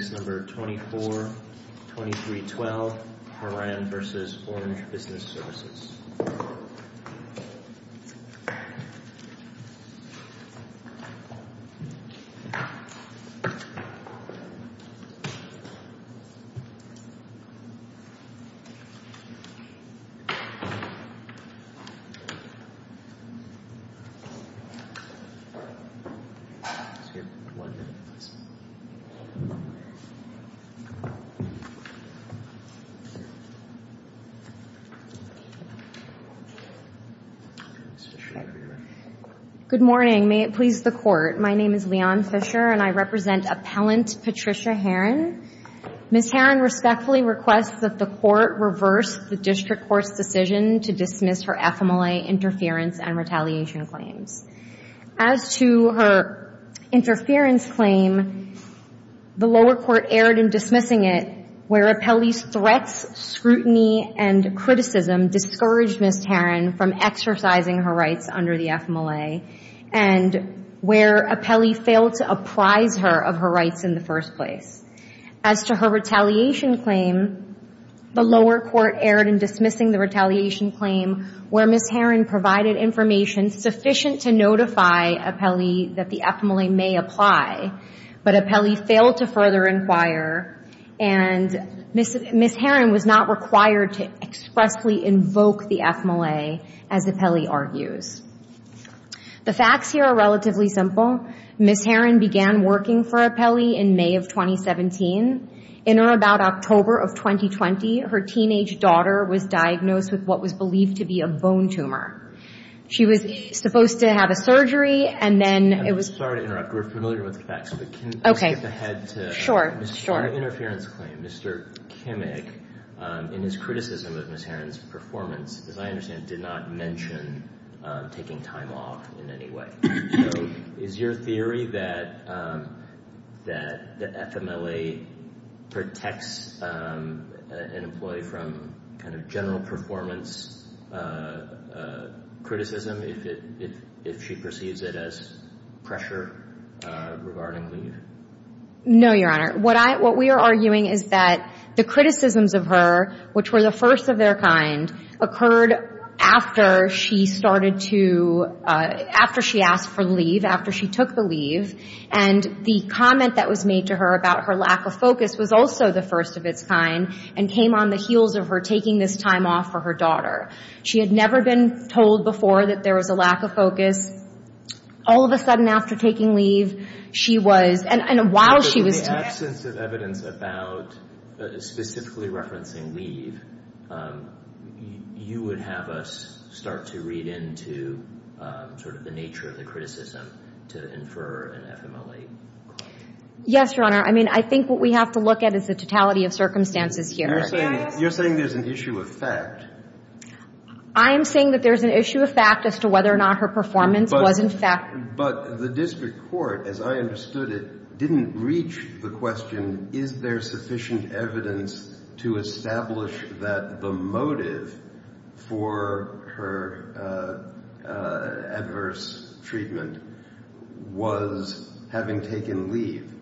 Case No. 24-2312, Haran v. Orange Business Services. Good morning. May it please the Court, my name is Leon Fisher and I represent Appellant Patricia Haran. Ms. Haran respectfully requests that the Court reverse the District Court's decision to dismiss her FMLA interference and retaliation claims. As to her interference claim, the lower court erred in dismissing it where Appellee's threats, scrutiny and criticism discouraged Ms. Haran from exercising her rights under the FMLA and where Appellee failed to apprise her of her rights in the first place. As to her retaliation claim, the lower court erred in dismissing the retaliation claim where Ms. Haran provided information sufficient to notify Appellee that the FMLA may apply, but Appellee failed to further inquire and Ms. Haran was not required to expressly invoke the FMLA as Appellee argues. The facts here are relatively simple. Ms. Haran began working for Appellee in May of 2017. In or about October of 2020, her teenage daughter was diagnosed with what was believed to be a bone tumor. She was supposed to have a surgery and then it was... I'm sorry to interrupt. We're familiar with the facts, but can we skip ahead to... Sure, sure. Your interference claim, Mr. Kimig, in his criticism of Ms. Haran's performance, as I understand, did not mention taking time off in any way. So is your theory that the FMLA protects an employee from general performance criticism if she perceives it as pressure regarding leave? No, Your Honor. What we are arguing is that the criticisms of her, which were the first of their kind, occurred after she started to... after she asked for leave, after she took the leave, and the comment that was made to her about her lack of focus was also the first of its kind and came on the heels of her taking this time off for her daughter. She had never been told before that there was a lack of focus. All of a sudden after taking leave, she was... and while she was... In the absence of evidence about specifically referencing leave, you would have us start to read into sort of the nature of the criticism to infer an FMLA claim. Yes, Your Honor. I mean, I think what we have to look at is the totality of circumstances here. You're saying there's an issue of fact. I am saying that there's an issue of fact as to whether or not her performance was in fact... But the district court, as I understood it, didn't reach the question, is there sufficient evidence to establish that the motive for her adverse treatment was having taken leave?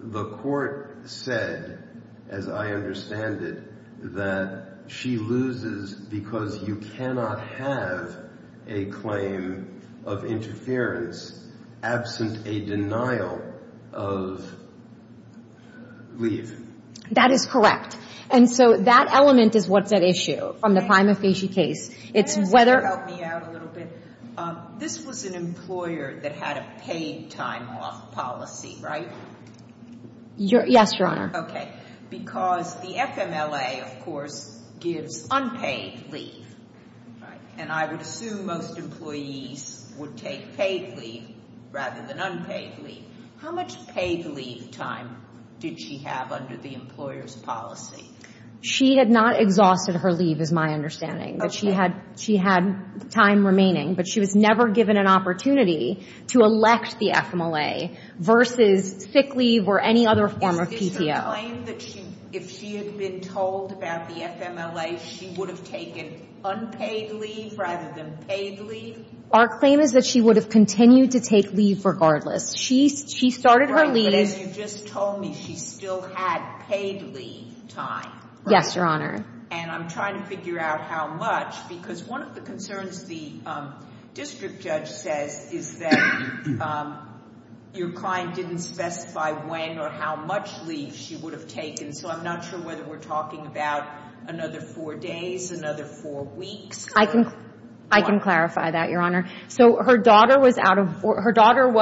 The court said, as I understand it, that she loses because you cannot have a claim of interference absent a denial of leave. That is correct. And so that element is what's at issue from the prima facie case. It's whether... Can you help me out a little bit? This was an employer that had a paid time off policy, right? Yes, Your Honor. Okay. Because the FMLA, of course, gives unpaid leave. And I would assume most employees would take paid leave rather than unpaid leave. How much paid leave time did she have under the employer's policy? She had not exhausted her leave, is my understanding. Okay. She had time remaining, but she was never given an opportunity to elect the FMLA versus sick leave or any other form of PTO. Is the claim that if she had been told about the FMLA, she would have taken unpaid leave rather than paid leave? Our claim is that she would have continued to take leave regardless. She started her leave... Right. But then you just told me she still had paid leave time. Yes, Your Honor. And I'm trying to figure out how much, because one of the concerns the district judge says is that your client didn't specify when or how much leave she would have taken. So I'm not sure whether we're talking about another four days, another four weeks. I can clarify that, Your Honor. So her daughter was out of... Her daughter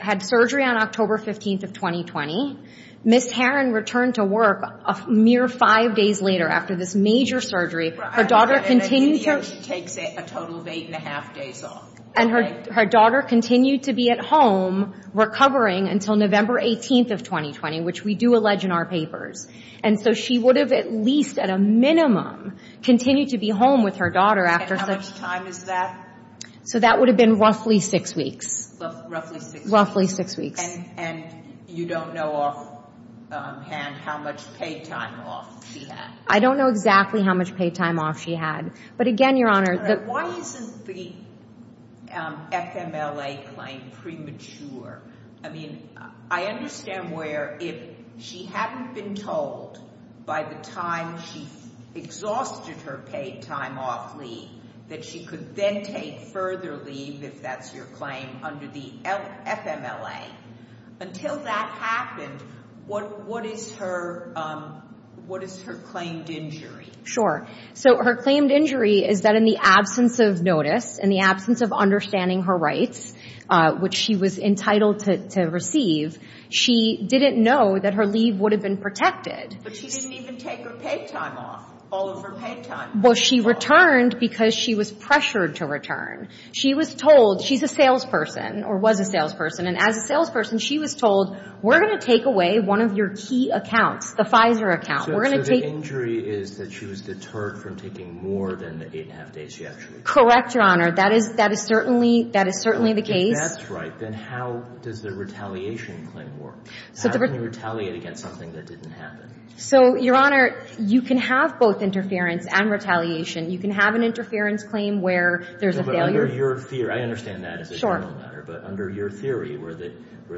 had surgery on October 15th of 2020. Ms. Herron returned to work a mere five days later after this major surgery. Right. Her daughter continued to... She takes a total of eight and a half days off. And her daughter continued to be at home recovering until November 18th of 2020, which we do allege in our papers. And so she would have at least at a minimum continued to be home with her daughter after... And how much time is that? So that would have been roughly six weeks. Roughly six weeks. Roughly six weeks. And you don't know offhand how much paid time off she had. I don't know exactly how much paid time off she had. But again, Your Honor... Why isn't the FMLA claim premature? I mean, I understand where if she hadn't been told by the time she exhausted her paid time off leave that she could then take further leave, if that's your claim, under the FMLA. Until that happened, what is her claimed injury? Sure. So her claimed injury is that in the absence of notice, in the absence of understanding her rights, which she was entitled to receive, she didn't know that her leave would have been protected. But she didn't even take her paid time off, all of her paid time. Well, she returned because she was pressured to return. She was told, she's a salesperson, or was a salesperson, and as a salesperson, she was told, we're going to take away one of your key accounts, the Pfizer account. So the injury is that she was deterred from taking more than the eight and a half days she actually... Correct, Your Honor. That is certainly the case. If that's right, then how does the retaliation claim work? How can you retaliate against something that didn't happen? So, Your Honor, you can have both interference and retaliation. You can have an interference claim where there's a failure... No, but under your theory, I understand that as a general matter, but under your theory where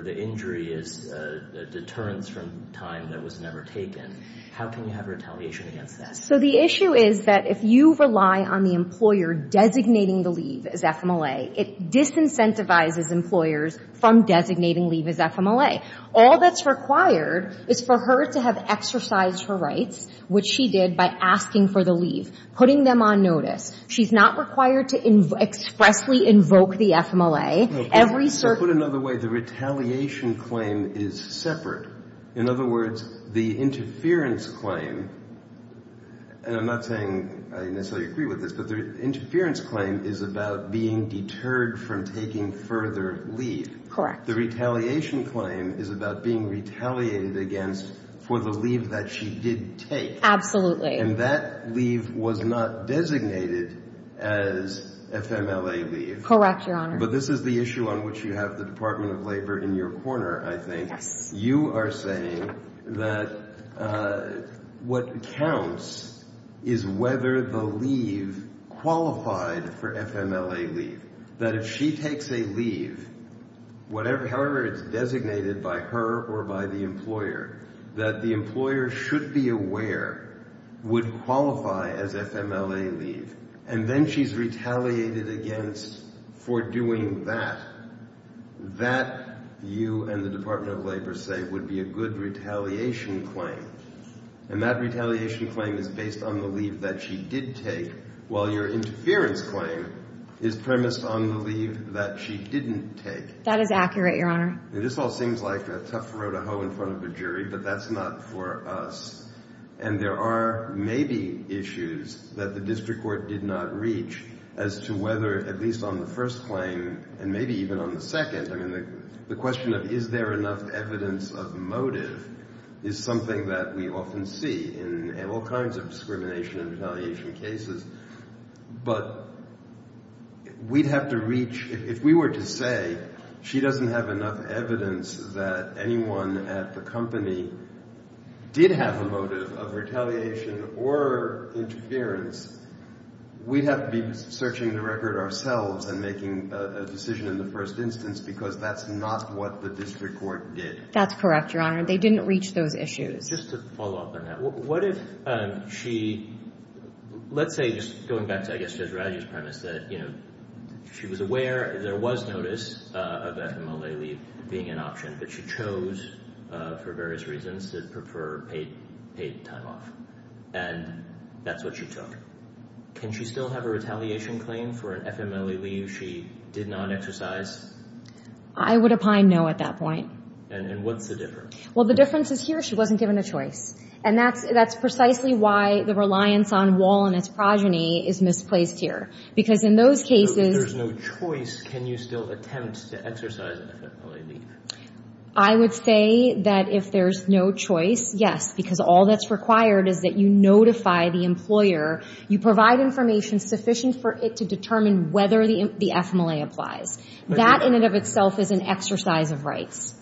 the injury is a deterrence from time that was never taken, how can you have retaliation against that? So the issue is that if you rely on the employer designating the leave as FMLA, it disincentivizes employers from designating leave as FMLA. All that's required is for her to have exercised her rights, which she did by asking for the leave, putting them on notice. She's not required to expressly invoke the FMLA. Put another way, the retaliation claim is separate. In other words, the interference claim, and I'm not saying I necessarily agree with this, but the interference claim is about being deterred from taking further leave. Correct. In fact, the retaliation claim is about being retaliated against for the leave that she did take. Absolutely. And that leave was not designated as FMLA leave. Correct, Your Honor. But this is the issue on which you have the Department of Labor in your corner, I think. Yes. You are saying that what counts is whether the leave qualified for FMLA leave. That if she takes a leave, however it's designated by her or by the employer, that the employer should be aware would qualify as FMLA leave. And then she's retaliated against for doing that. That, you and the Department of Labor say, would be a good retaliation claim. And that retaliation claim is based on the leave that she did take, while your interference claim is premised on the leave that she didn't take. That is accurate, Your Honor. This all seems like a tough row to hoe in front of a jury, but that's not for us. And there are maybe issues that the district court did not reach as to whether, at least on the first claim, and maybe even on the second, I mean, the question of is there enough evidence of motive is something that we often see in all kinds of discrimination and retaliation cases. But we'd have to reach, if we were to say she doesn't have enough evidence that anyone at the company did have a motive of retaliation or interference, we'd have to be searching the record ourselves and making a decision in the first instance because that's not what the district court did. That's correct, Your Honor. They didn't reach those issues. Just to follow up on that. What if she, let's say just going back to, I guess, Judge Raggio's premise that she was aware there was notice of FMLE leave being an option, but she chose for various reasons to prefer paid time off. And that's what she took. Can she still have a retaliation claim for an FMLE leave she did not exercise? I would opine no at that point. And what's the difference? Well, the difference is here. She wasn't given a choice. And that's precisely why the reliance on Wall and its progeny is misplaced here. Because in those cases- So if there's no choice, can you still attempt to exercise FMLE leave? I would say that if there's no choice, yes. Because all that's required is that you notify the employer. You provide information sufficient for it to determine whether the FMLE applies. That in and of itself is an exercise of rights.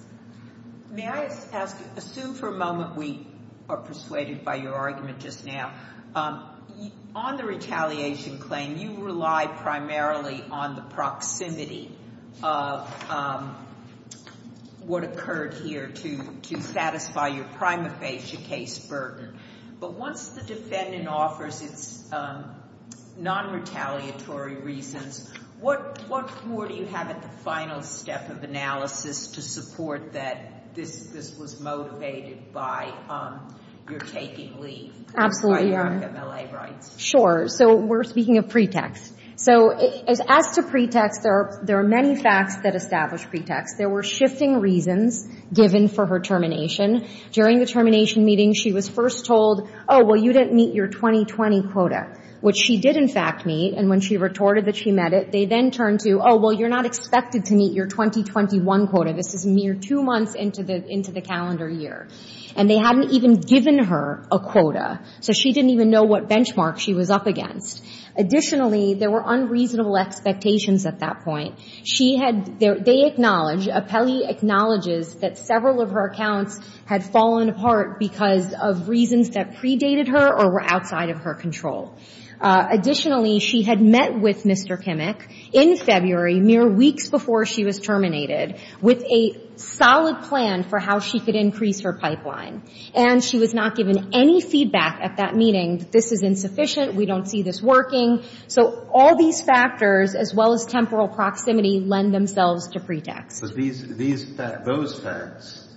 May I ask, assume for a moment we are persuaded by your argument just now. On the retaliation claim, you relied primarily on the proximity of what occurred here to satisfy your prima facie case burden. But once the defendant offers its non-retaliatory reasons, what more do you have at the final step of analysis to support that this was motivated by your taking leave? Absolutely. By your FMLE rights? Sure. So we're speaking of pretext. So as to pretext, there are many facts that establish pretext. There were shifting reasons given for her termination. During the termination meeting, she was first told, oh, well, you didn't meet your 2020 quota. Which she did, in fact, meet. And when she retorted that she met it, they then turned to, oh, well, you're not expected to meet your 2021 quota. This is mere two months into the calendar year. And they hadn't even given her a quota. So she didn't even know what benchmark she was up against. Additionally, there were unreasonable expectations at that point. She had, they acknowledge, Apelli acknowledges that several of her accounts had fallen apart because of reasons that predated her or were outside of her control. Additionally, she had met with Mr. Kimmick in February, mere weeks before she was terminated, with a solid plan for how she could increase her pipeline. And she was not given any feedback at that meeting that this is insufficient, we don't see this working. So all these factors, as well as temporal proximity, lend themselves to pretext. But these, those facts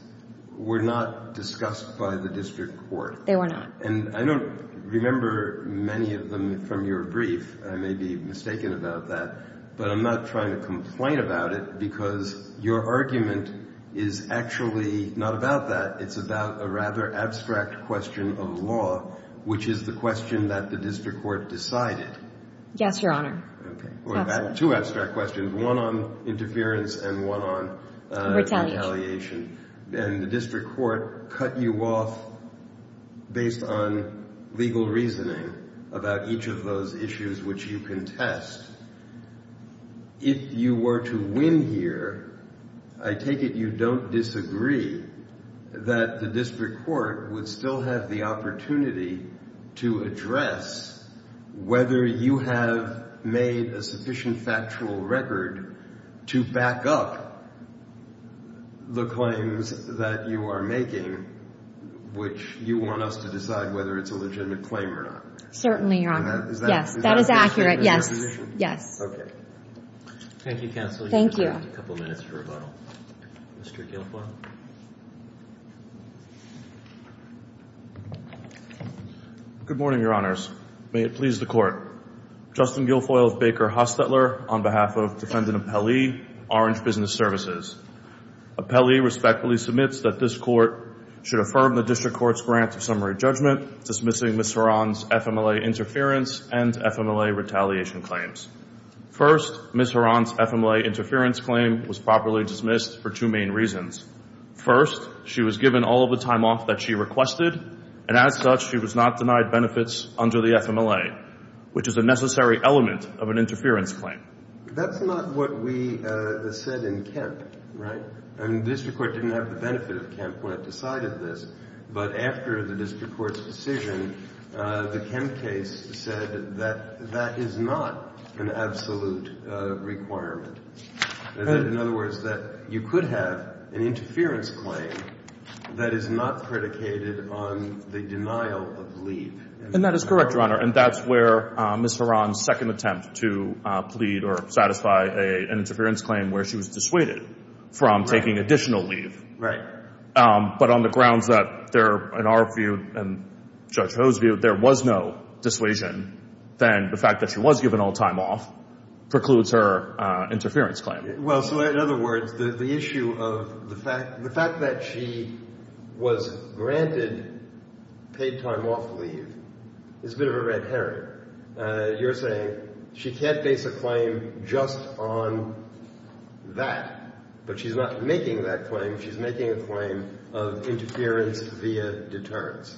were not discussed by the district court. They were not. And I don't remember many of them from your brief. I may be mistaken about that. But I'm not trying to complain about it because your argument is actually not about that. It's about a rather abstract question of law, which is the question that the district court decided. Yes, Your Honor. Two abstract questions, one on interference and one on retaliation. And the district court cut you off based on legal reasoning about each of those issues which you contest. If you were to win here, I take it you don't disagree that the district court would still have the opportunity to address whether you have made a sufficient factual record to back up the claims that you are making, which you want us to decide whether it's a legitimate claim or not. Certainly, Your Honor. Yes, that is accurate. Yes. Okay. Thank you, counsel. Thank you. You have a couple minutes for rebuttal. Mr. Guilfoyle. Good morning, Your Honors. May it please the court. Justin Guilfoyle of Baker Hostetler on behalf of Defendant Appelli, Orange Business Services. Appelli respectfully submits that this court should affirm the district court's grant of summary judgment dismissing Ms. Horan's FMLA interference and FMLA retaliation claims. First, Ms. Horan's FMLA interference claim was properly dismissed for two main reasons. First, she was given all of the time off that she requested and as such she was not denied benefits under the FMLA, which is a necessary element of an interference claim. That's not what we said in Kemp, right? I mean, the district court didn't have the benefit of Kemp when it decided this, but after the district court's decision, the Kemp case said that that is not an absolute requirement. In other words, that you could have an interference claim that is not predicated on the denial of leave. And that is correct, Your Honor, and that's where Ms. Horan's second attempt to plead or satisfy an interference claim where she was dissuaded from taking additional leave. Right. But on the grounds that there, in our view and Judge Ho's view, there was no dissuasion, then the fact that she was given all time off precludes her interference claim. Well, so in other words, the issue of the fact that she was granted paid time off leave is a bit of a red herring. You're saying she can't base a claim just on that, but she's not making that claim. She's making a claim of interference via deterrence.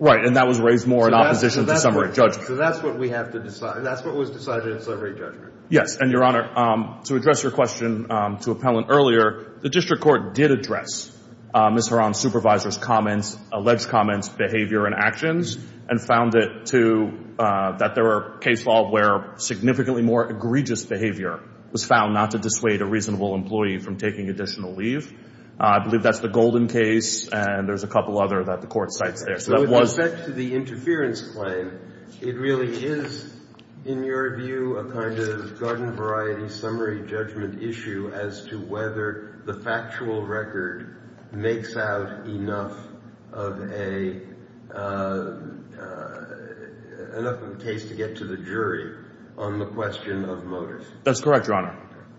Right, and that was raised more in opposition to summary judgment. So that's what we have to decide. That's what was decided in summary judgment. Yes, and Your Honor, to address your question to appellant earlier, the district court did address Ms. Horan's supervisor's comments, alleged comments, behavior, and actions, and found that there were case law where significantly more egregious behavior was found not to dissuade a reasonable employee from taking additional leave. I believe that's the Golden case, and there's a couple other that the court cites there. With respect to the interference claim, it really is, in your view, a kind of garden variety summary judgment issue as to whether the factual record makes out enough of a... enough of a case to get to the jury on the question of motives. That's correct, Your Honor.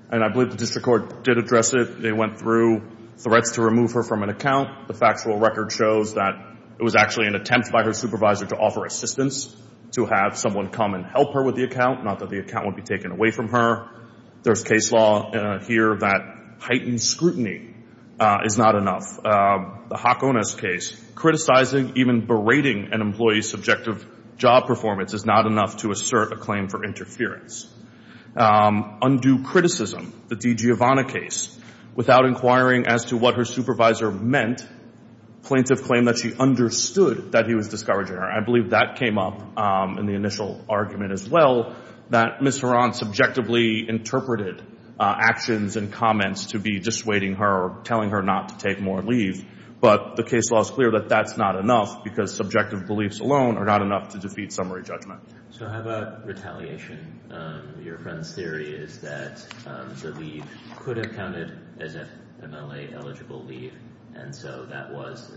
And I believe the district court did address it. They went through threats to remove her from an account. The factual record shows that it was actually an attempt by her supervisor to offer assistance to have someone come and help her with the account, not that the account would be taken away from her. There's case law here that heightened scrutiny is not enough. The Hakone's case, criticizing, even berating, an employee's subjective job performance is not enough to assert a claim for interference. Undue criticism, the DiGiovanna case, without inquiring as to what her supervisor meant, plaintiff claimed that she understood that he was discouraging her. I believe that came up in the initial argument as well, that Ms. Horan subjectively interpreted actions and comments to be dissuading her or telling her not to take more leave. But the case law is clear that that's not enough because subjective beliefs alone are not enough to defeat summary judgment. So how about retaliation? Your friend's theory is that the leave could have counted as an MLA-eligible leave, and so that was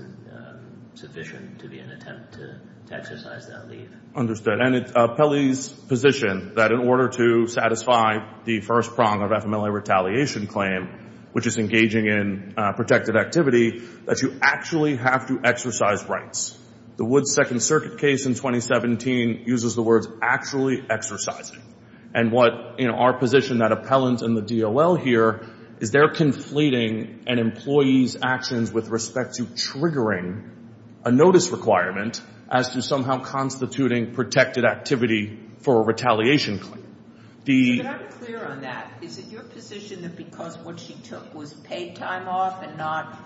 sufficient to be an attempt to exercise that leave. Understood. And it's an appellee's position that in order to satisfy the first prong of FMLA retaliation claim, which is engaging in protected activity, that you actually have to exercise rights. The Woods Second Circuit case in 2017 uses the words actually exercising. And what, in our position, that appellant and the DOL here, is they're conflating an employee's actions with respect to triggering a notice requirement as to somehow constituting protected activity for a retaliation claim. But I'm clear on that. Is it your position that because what she took was paid time off and not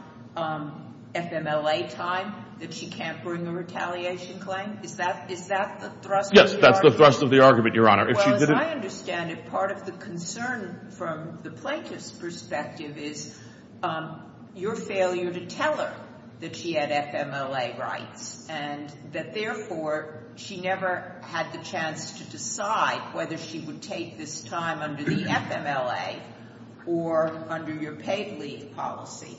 FMLA time that she can't bring a retaliation claim? Is that the thrust of the argument? Yes, that's the thrust of the argument, Your Honor. Well, as I understand it, part of the concern from the plaintiff's perspective is your failure to tell her that she had FMLA rights and that, therefore, she never had the chance to decide whether she would take this time under the FMLA or under your paid leave policy.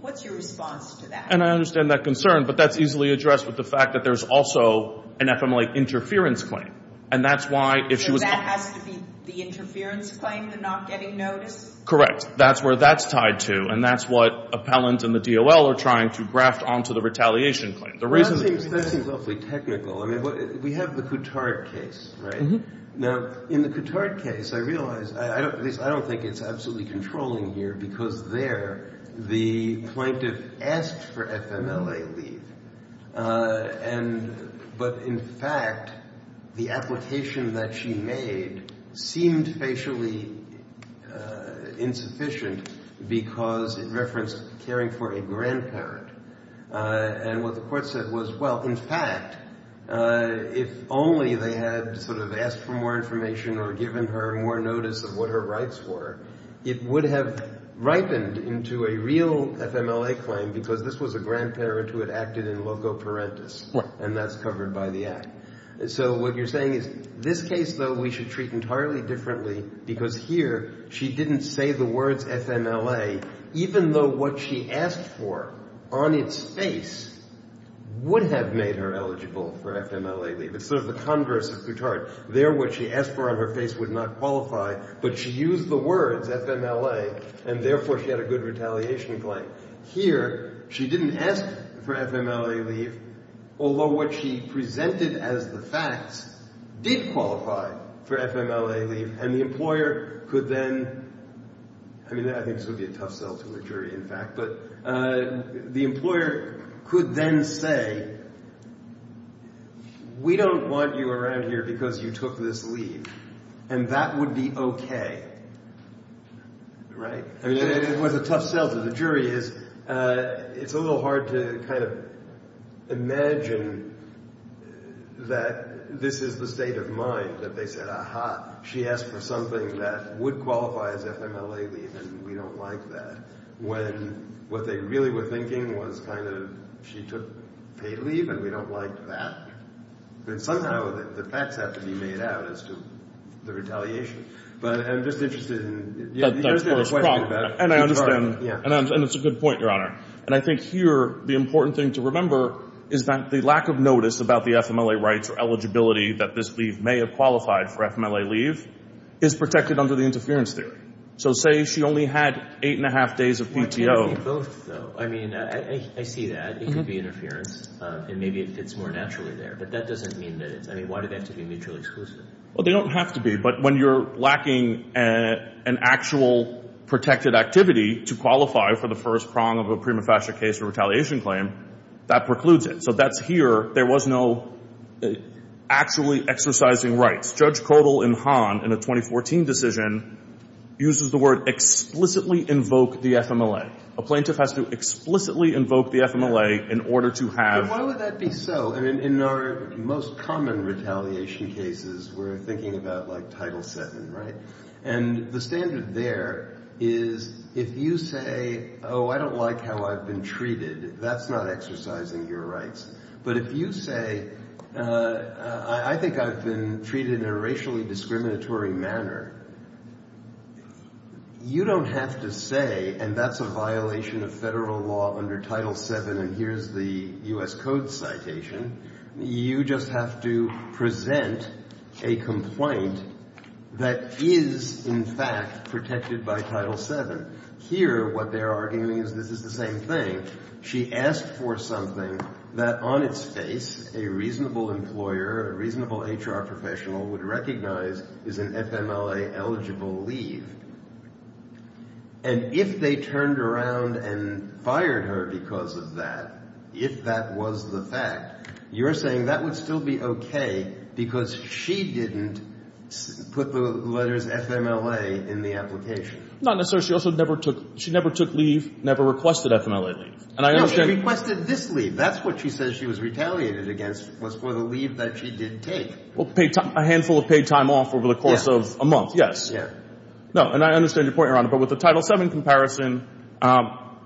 What's your response to that? And I understand that concern, but that's easily addressed with the fact that there's also an FMLA interference claim. And that's why, if she was... So that has to be the interference claim, the not getting notice? Correct. That's where that's tied to. And that's what appellant and the DOL are trying to graft onto the retaliation claim. That seems awfully technical. I mean, we have the Coutard case, right? Mm-hmm. Now, in the Coutard case, I realize... At least, I don't think it's absolutely controlling here because there, the plaintiff asked for FMLA leave. Uh, and... But, in fact, the application that she made seemed facially, uh, insufficient because it referenced caring for a grandparent. Uh, and what the court said was, well, in fact, uh, if only they had sort of asked for more information or given her more notice of what her rights were, it would have ripened into a real FMLA claim because this was a grandparent who had acted in loco parentis. Right. And that's covered by the act. So what you're saying is, this case, though, we should treat entirely differently because here, she didn't say the words FMLA even though what she asked for on its face would have made her eligible for FMLA leave. It's sort of the converse of Coutard. There, what she asked for on her face would not qualify, but she used the words FMLA and, therefore, she had a good retaliation claim. Here, she didn't ask for FMLA leave although what she presented as the facts did qualify for FMLA leave and the employer could then... I mean, I think this would be a tough sell to a jury, in fact, but the employer could then say, we don't want you around here because you took this leave and that would be okay. Right? I mean, it was a tough sell to the jury. It's a little hard to kind of imagine that this is the state of mind that they said, aha, she asked for something that would qualify as FMLA leave and we don't like that when what they really were thinking was kind of she took paid leave and we don't like that. But somehow, the facts have to be made out as to the retaliation. But I'm just interested in... And I understand. And it's a good point, Your Honor. And I think here, the important thing to remember is that the lack of notice about the FMLA rights or eligibility that this leave may have qualified for FMLA leave is protected under the interference theory. So say she only had 8 1⁄2 days of PTO... Why can't it be both, though? I mean, I see that. It could be interference and maybe it fits more naturally there. But that doesn't mean that it's... I mean, why do they have to be mutually exclusive? Well, they don't have to be. But when you're lacking an actual protected activity to qualify for the first prong of a prima facie case or retaliation claim, that precludes it. So that's here. There was no actually exercising rights. Judge Kodal in Han, in a 2014 decision, uses the word explicitly invoke the FMLA. A plaintiff has to explicitly invoke the FMLA in order to have... But why would that be so? I mean, in our most common retaliation cases, we're thinking about, like, Title VII, right? And the standard there is if you say, oh, I don't like how I've been treated, that's not exercising your rights. But if you say, I think I've been treated in a racially discriminatory manner, you don't have to say, and that's a violation of federal law under Title VII, and here's the U.S. Code citation, you just have to present a complaint that is, in fact, protected by Title VII. Here, what they're arguing is this is the same thing. She asked for something that, on its face, a reasonable employer, a reasonable HR professional would recognize is an FMLA-eligible leave. And if they turned around and fired her because of that, if that was the fact, you're saying that would still be okay because she didn't put the letters FMLA in the application. Not necessarily. She never took leave, never requested FMLA leave. No, she requested this leave. That's what she says she was retaliated against was for the leave that she did take. A handful of paid time off over the course of a month, yes. And I understand your point, Your Honor, but with the Title VII comparison,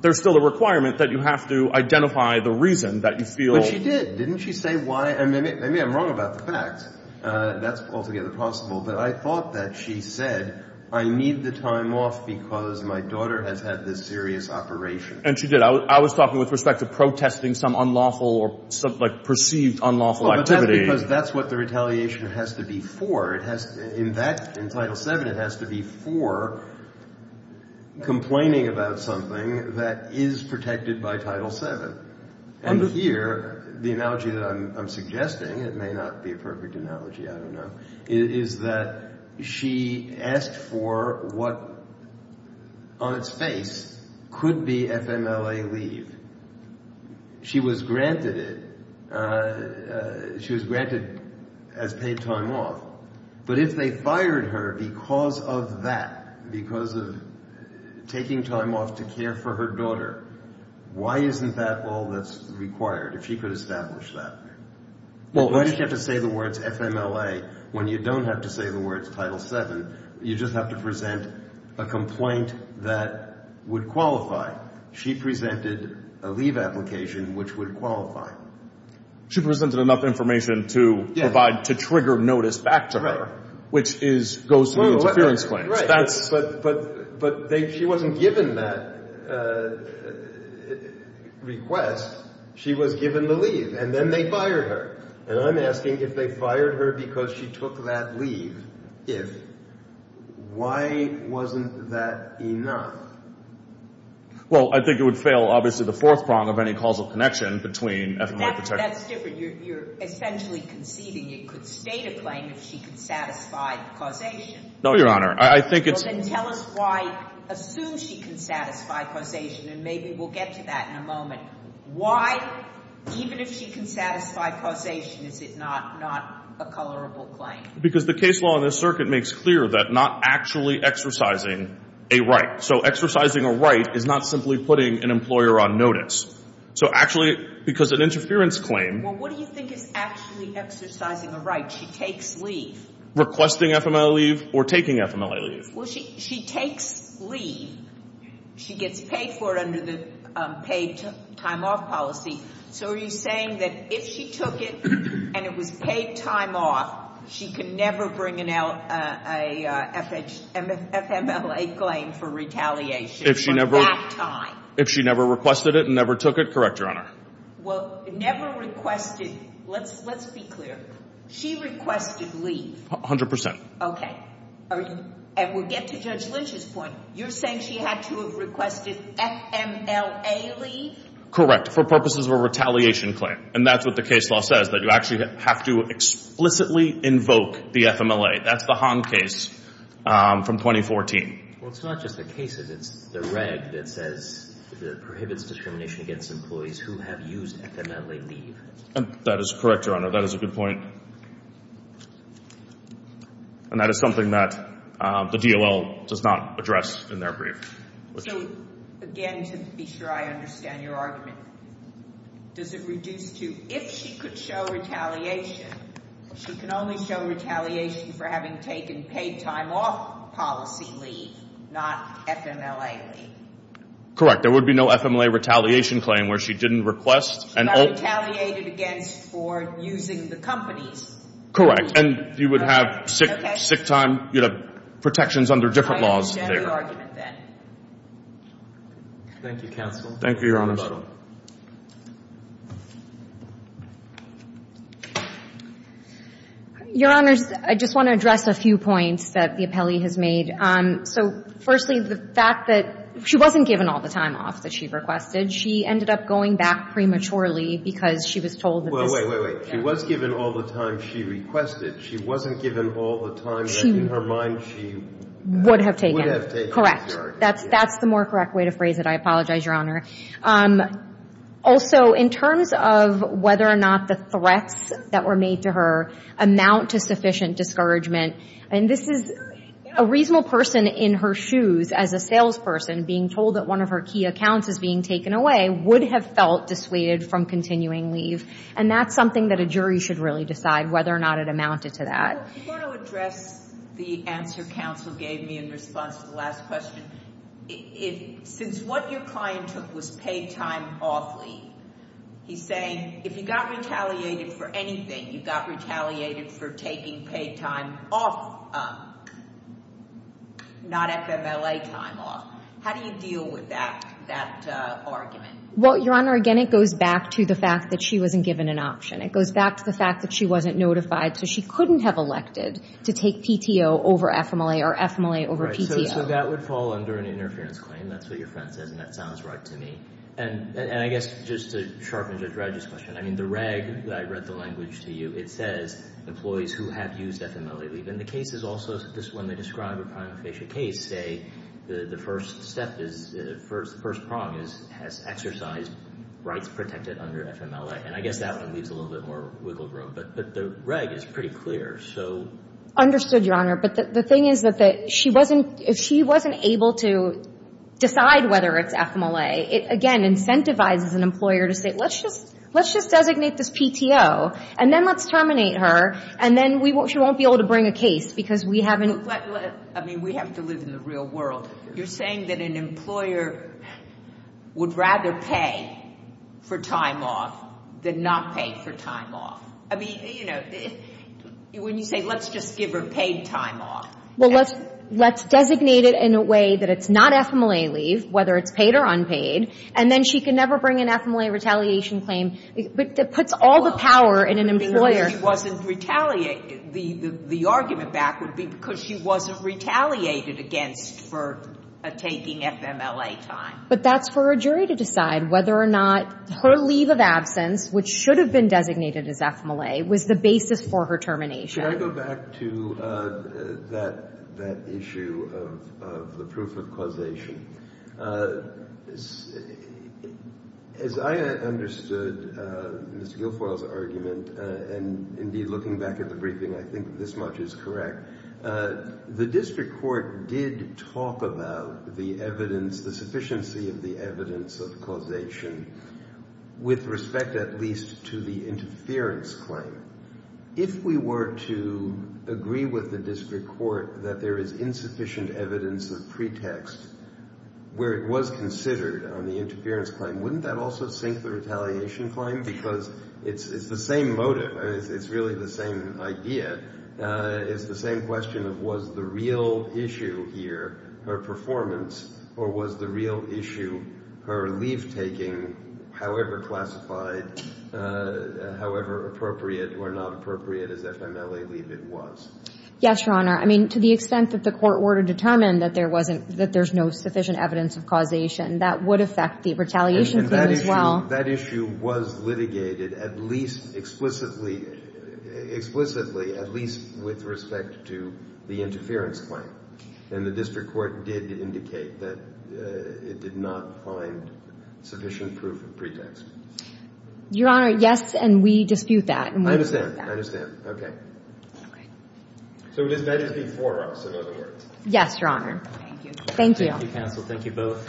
there's still a requirement that you have to identify the reason that you feel... She did. Didn't she say why? Maybe I'm wrong about the facts. That's altogether possible. But I thought that she said, I need the time off because my daughter has had this serious operation. And she did. I was talking with respect to protesting some unlawful or perceived unlawful activity. That's what the retaliation has to be for. In Title VII, it has to be for complaining about something that is protected by Title VII. And here, the analogy that I'm suggesting, it may not be a perfect analogy, I don't know, is that she asked for what on its face could be FMLA leave. She was granted it. She was granted as paid time off. But if they fired her because of that, because of taking time off to care for her daughter, why isn't that all that's required, if she could establish that? Why do you have to say the words FMLA when you don't have to say the words Title VII? You just have to present a complaint that would qualify. She presented a leave application which would qualify. She presented enough information to provide, to trigger notice back to her, which is goes to the interference claims. But she wasn't given that request. She was given the leave, and then they fired her. And I'm asking if they fired her because she took that leave, if, why wasn't that enough? Well, I think it would fail, obviously, the fourth prong of any causal connection between FMLA protection. That's different. You're essentially conceiving it could state a claim if she could satisfy the causation. No, Your Honor. I think it's... Then tell us why, assume she can satisfy causation, and maybe we'll get to that in a moment. Why, even if she can satisfy causation, is it not a colorable claim? Because the case law in this circuit makes clear that not actually exercising a right. So exercising a right is not simply putting an employer on notice. So actually, because an interference claim... Well, what do you think is actually exercising a right? She takes leave. Requesting FMLA leave or taking FMLA leave? She takes leave. She gets paid for it under the paid time off policy. So are you saying that if she took it and it was paid time off, she could never bring an FMLA claim for retaliation for that time? If she never requested it and never took it? Correct, Your Honor. Never requested... Let's be clear. She requested 100%. Okay. And we'll get to Judge Lynch's point. You're saying she had to have requested FMLA leave? Correct, for purposes of a retaliation claim. And that's what the case law says, that you actually have to explicitly invoke the FMLA. That's the Hahn case from 2014. Well, it's not just the case, it's the reg that says it prohibits discrimination against employees who have used FMLA leave. That is correct, Your Honor. That is a good point. And that is something that the DOL does not address in their brief. So, again, to be sure I understand your argument, does it reduce to, if she could show retaliation, she can only show retaliation for having taken paid time off policy leave, not FMLA leave? Correct. There would be no FMLA retaliation claim where she didn't request... She got retaliated against for using the company's leave. Correct. And you would have sick time, you'd have protections under different laws. I understand the argument then. Thank you, counsel. Thank you, Your Honor. Your Honor, I just want to address a few points that the appellee has made. So, firstly, the fact that she wasn't given all the time off that she requested. She ended up going back prematurely because she was told... Wait, wait, wait. She was given all the time she requested. She wasn't given all the time that in her mind she would have taken. Correct. That's the more correct way to phrase it. I apologize, Your Honor. Also, in terms of whether or not the threats that were made to her amount to sufficient discouragement, and this is a reasonable person in her shoes as a salesperson being told that one of her key accounts is being taken away, would have felt dissuaded from continuing leave. And that's something that a jury should really decide, whether or not it amounted to that. I want to address the answer counsel gave me in response to the last question. Since what your client took was paid time off leave, he's saying if you got retaliated for anything, you got retaliated for taking paid time off, not FMLA time off, how do you deal with that argument? Well, Your Honor, again, it goes back to the fact that she wasn't given an option. It goes back to the fact that she wasn't notified, so she couldn't have elected to take PTO over FMLA or FMLA over PTO. So that would fall under an interference claim. That's what your friend says, and that sounds right to me. And I guess just to sharpen Judge Reg's question, the reg, I read the language to you, it says employees who have used FMLA leave. And the cases also, when they describe a prima facie case, say the first step is the first prong is has exercised rights protected under FMLA. And I guess that one leaves a little bit more wiggle room. But the reg is pretty clear, so. Understood, Your Honor. But the thing is that she wasn't able to decide whether it's FMLA. It, again, incentivizes an employer to say, let's just designate this PTO, and then let's terminate her, and then she won't be able to bring a case because we haven't I mean, we have to live in the real world. You're saying that an employer would rather pay for time off than not pay for time off. I mean, you know, when you say let's just give her paid time off. Well, let's designate it in a way that it's not FMLA leave, whether it's paid or unpaid, and then she can never bring an FMLA retaliation claim. It puts all the power in an employer. If she wasn't retaliated, the argument back would be because she wasn't retaliated against for taking FMLA time. But that's for her jury to decide whether or not her leave of absence, which should have been designated as FMLA, was the basis for her termination. Can I go back to that issue of the proof of causation? As I understood Mr. Guilfoyle's argument and indeed looking back at the briefing, I think this much is correct. The district court did talk about the evidence, the sufficiency of the evidence of causation with respect at least to the interference claim. If we were to agree with the district court that there is insufficient evidence of pretext where it was considered on the interference claim, wouldn't that also sink the retaliation claim? Because it's the same motive. It's really the same idea. It's the same question of was the real issue here her performance or was the real issue her leave taking, however classified, however appropriate or not appropriate as FMLA leave it was. Yes, Your Honor. I mean, to the extent that the court order determined that there's no sufficient evidence of causation, that would affect the retaliation claim as well. That issue was litigated at least explicitly at least with respect to the interference claim. And the district court did indicate that it did not find sufficient proof of pretext. Your Honor, yes, and we dispute that. I understand. Okay. So that is before us, in other words. Yes, Your Honor. Thank you. Thank you, counsel. Thank you both.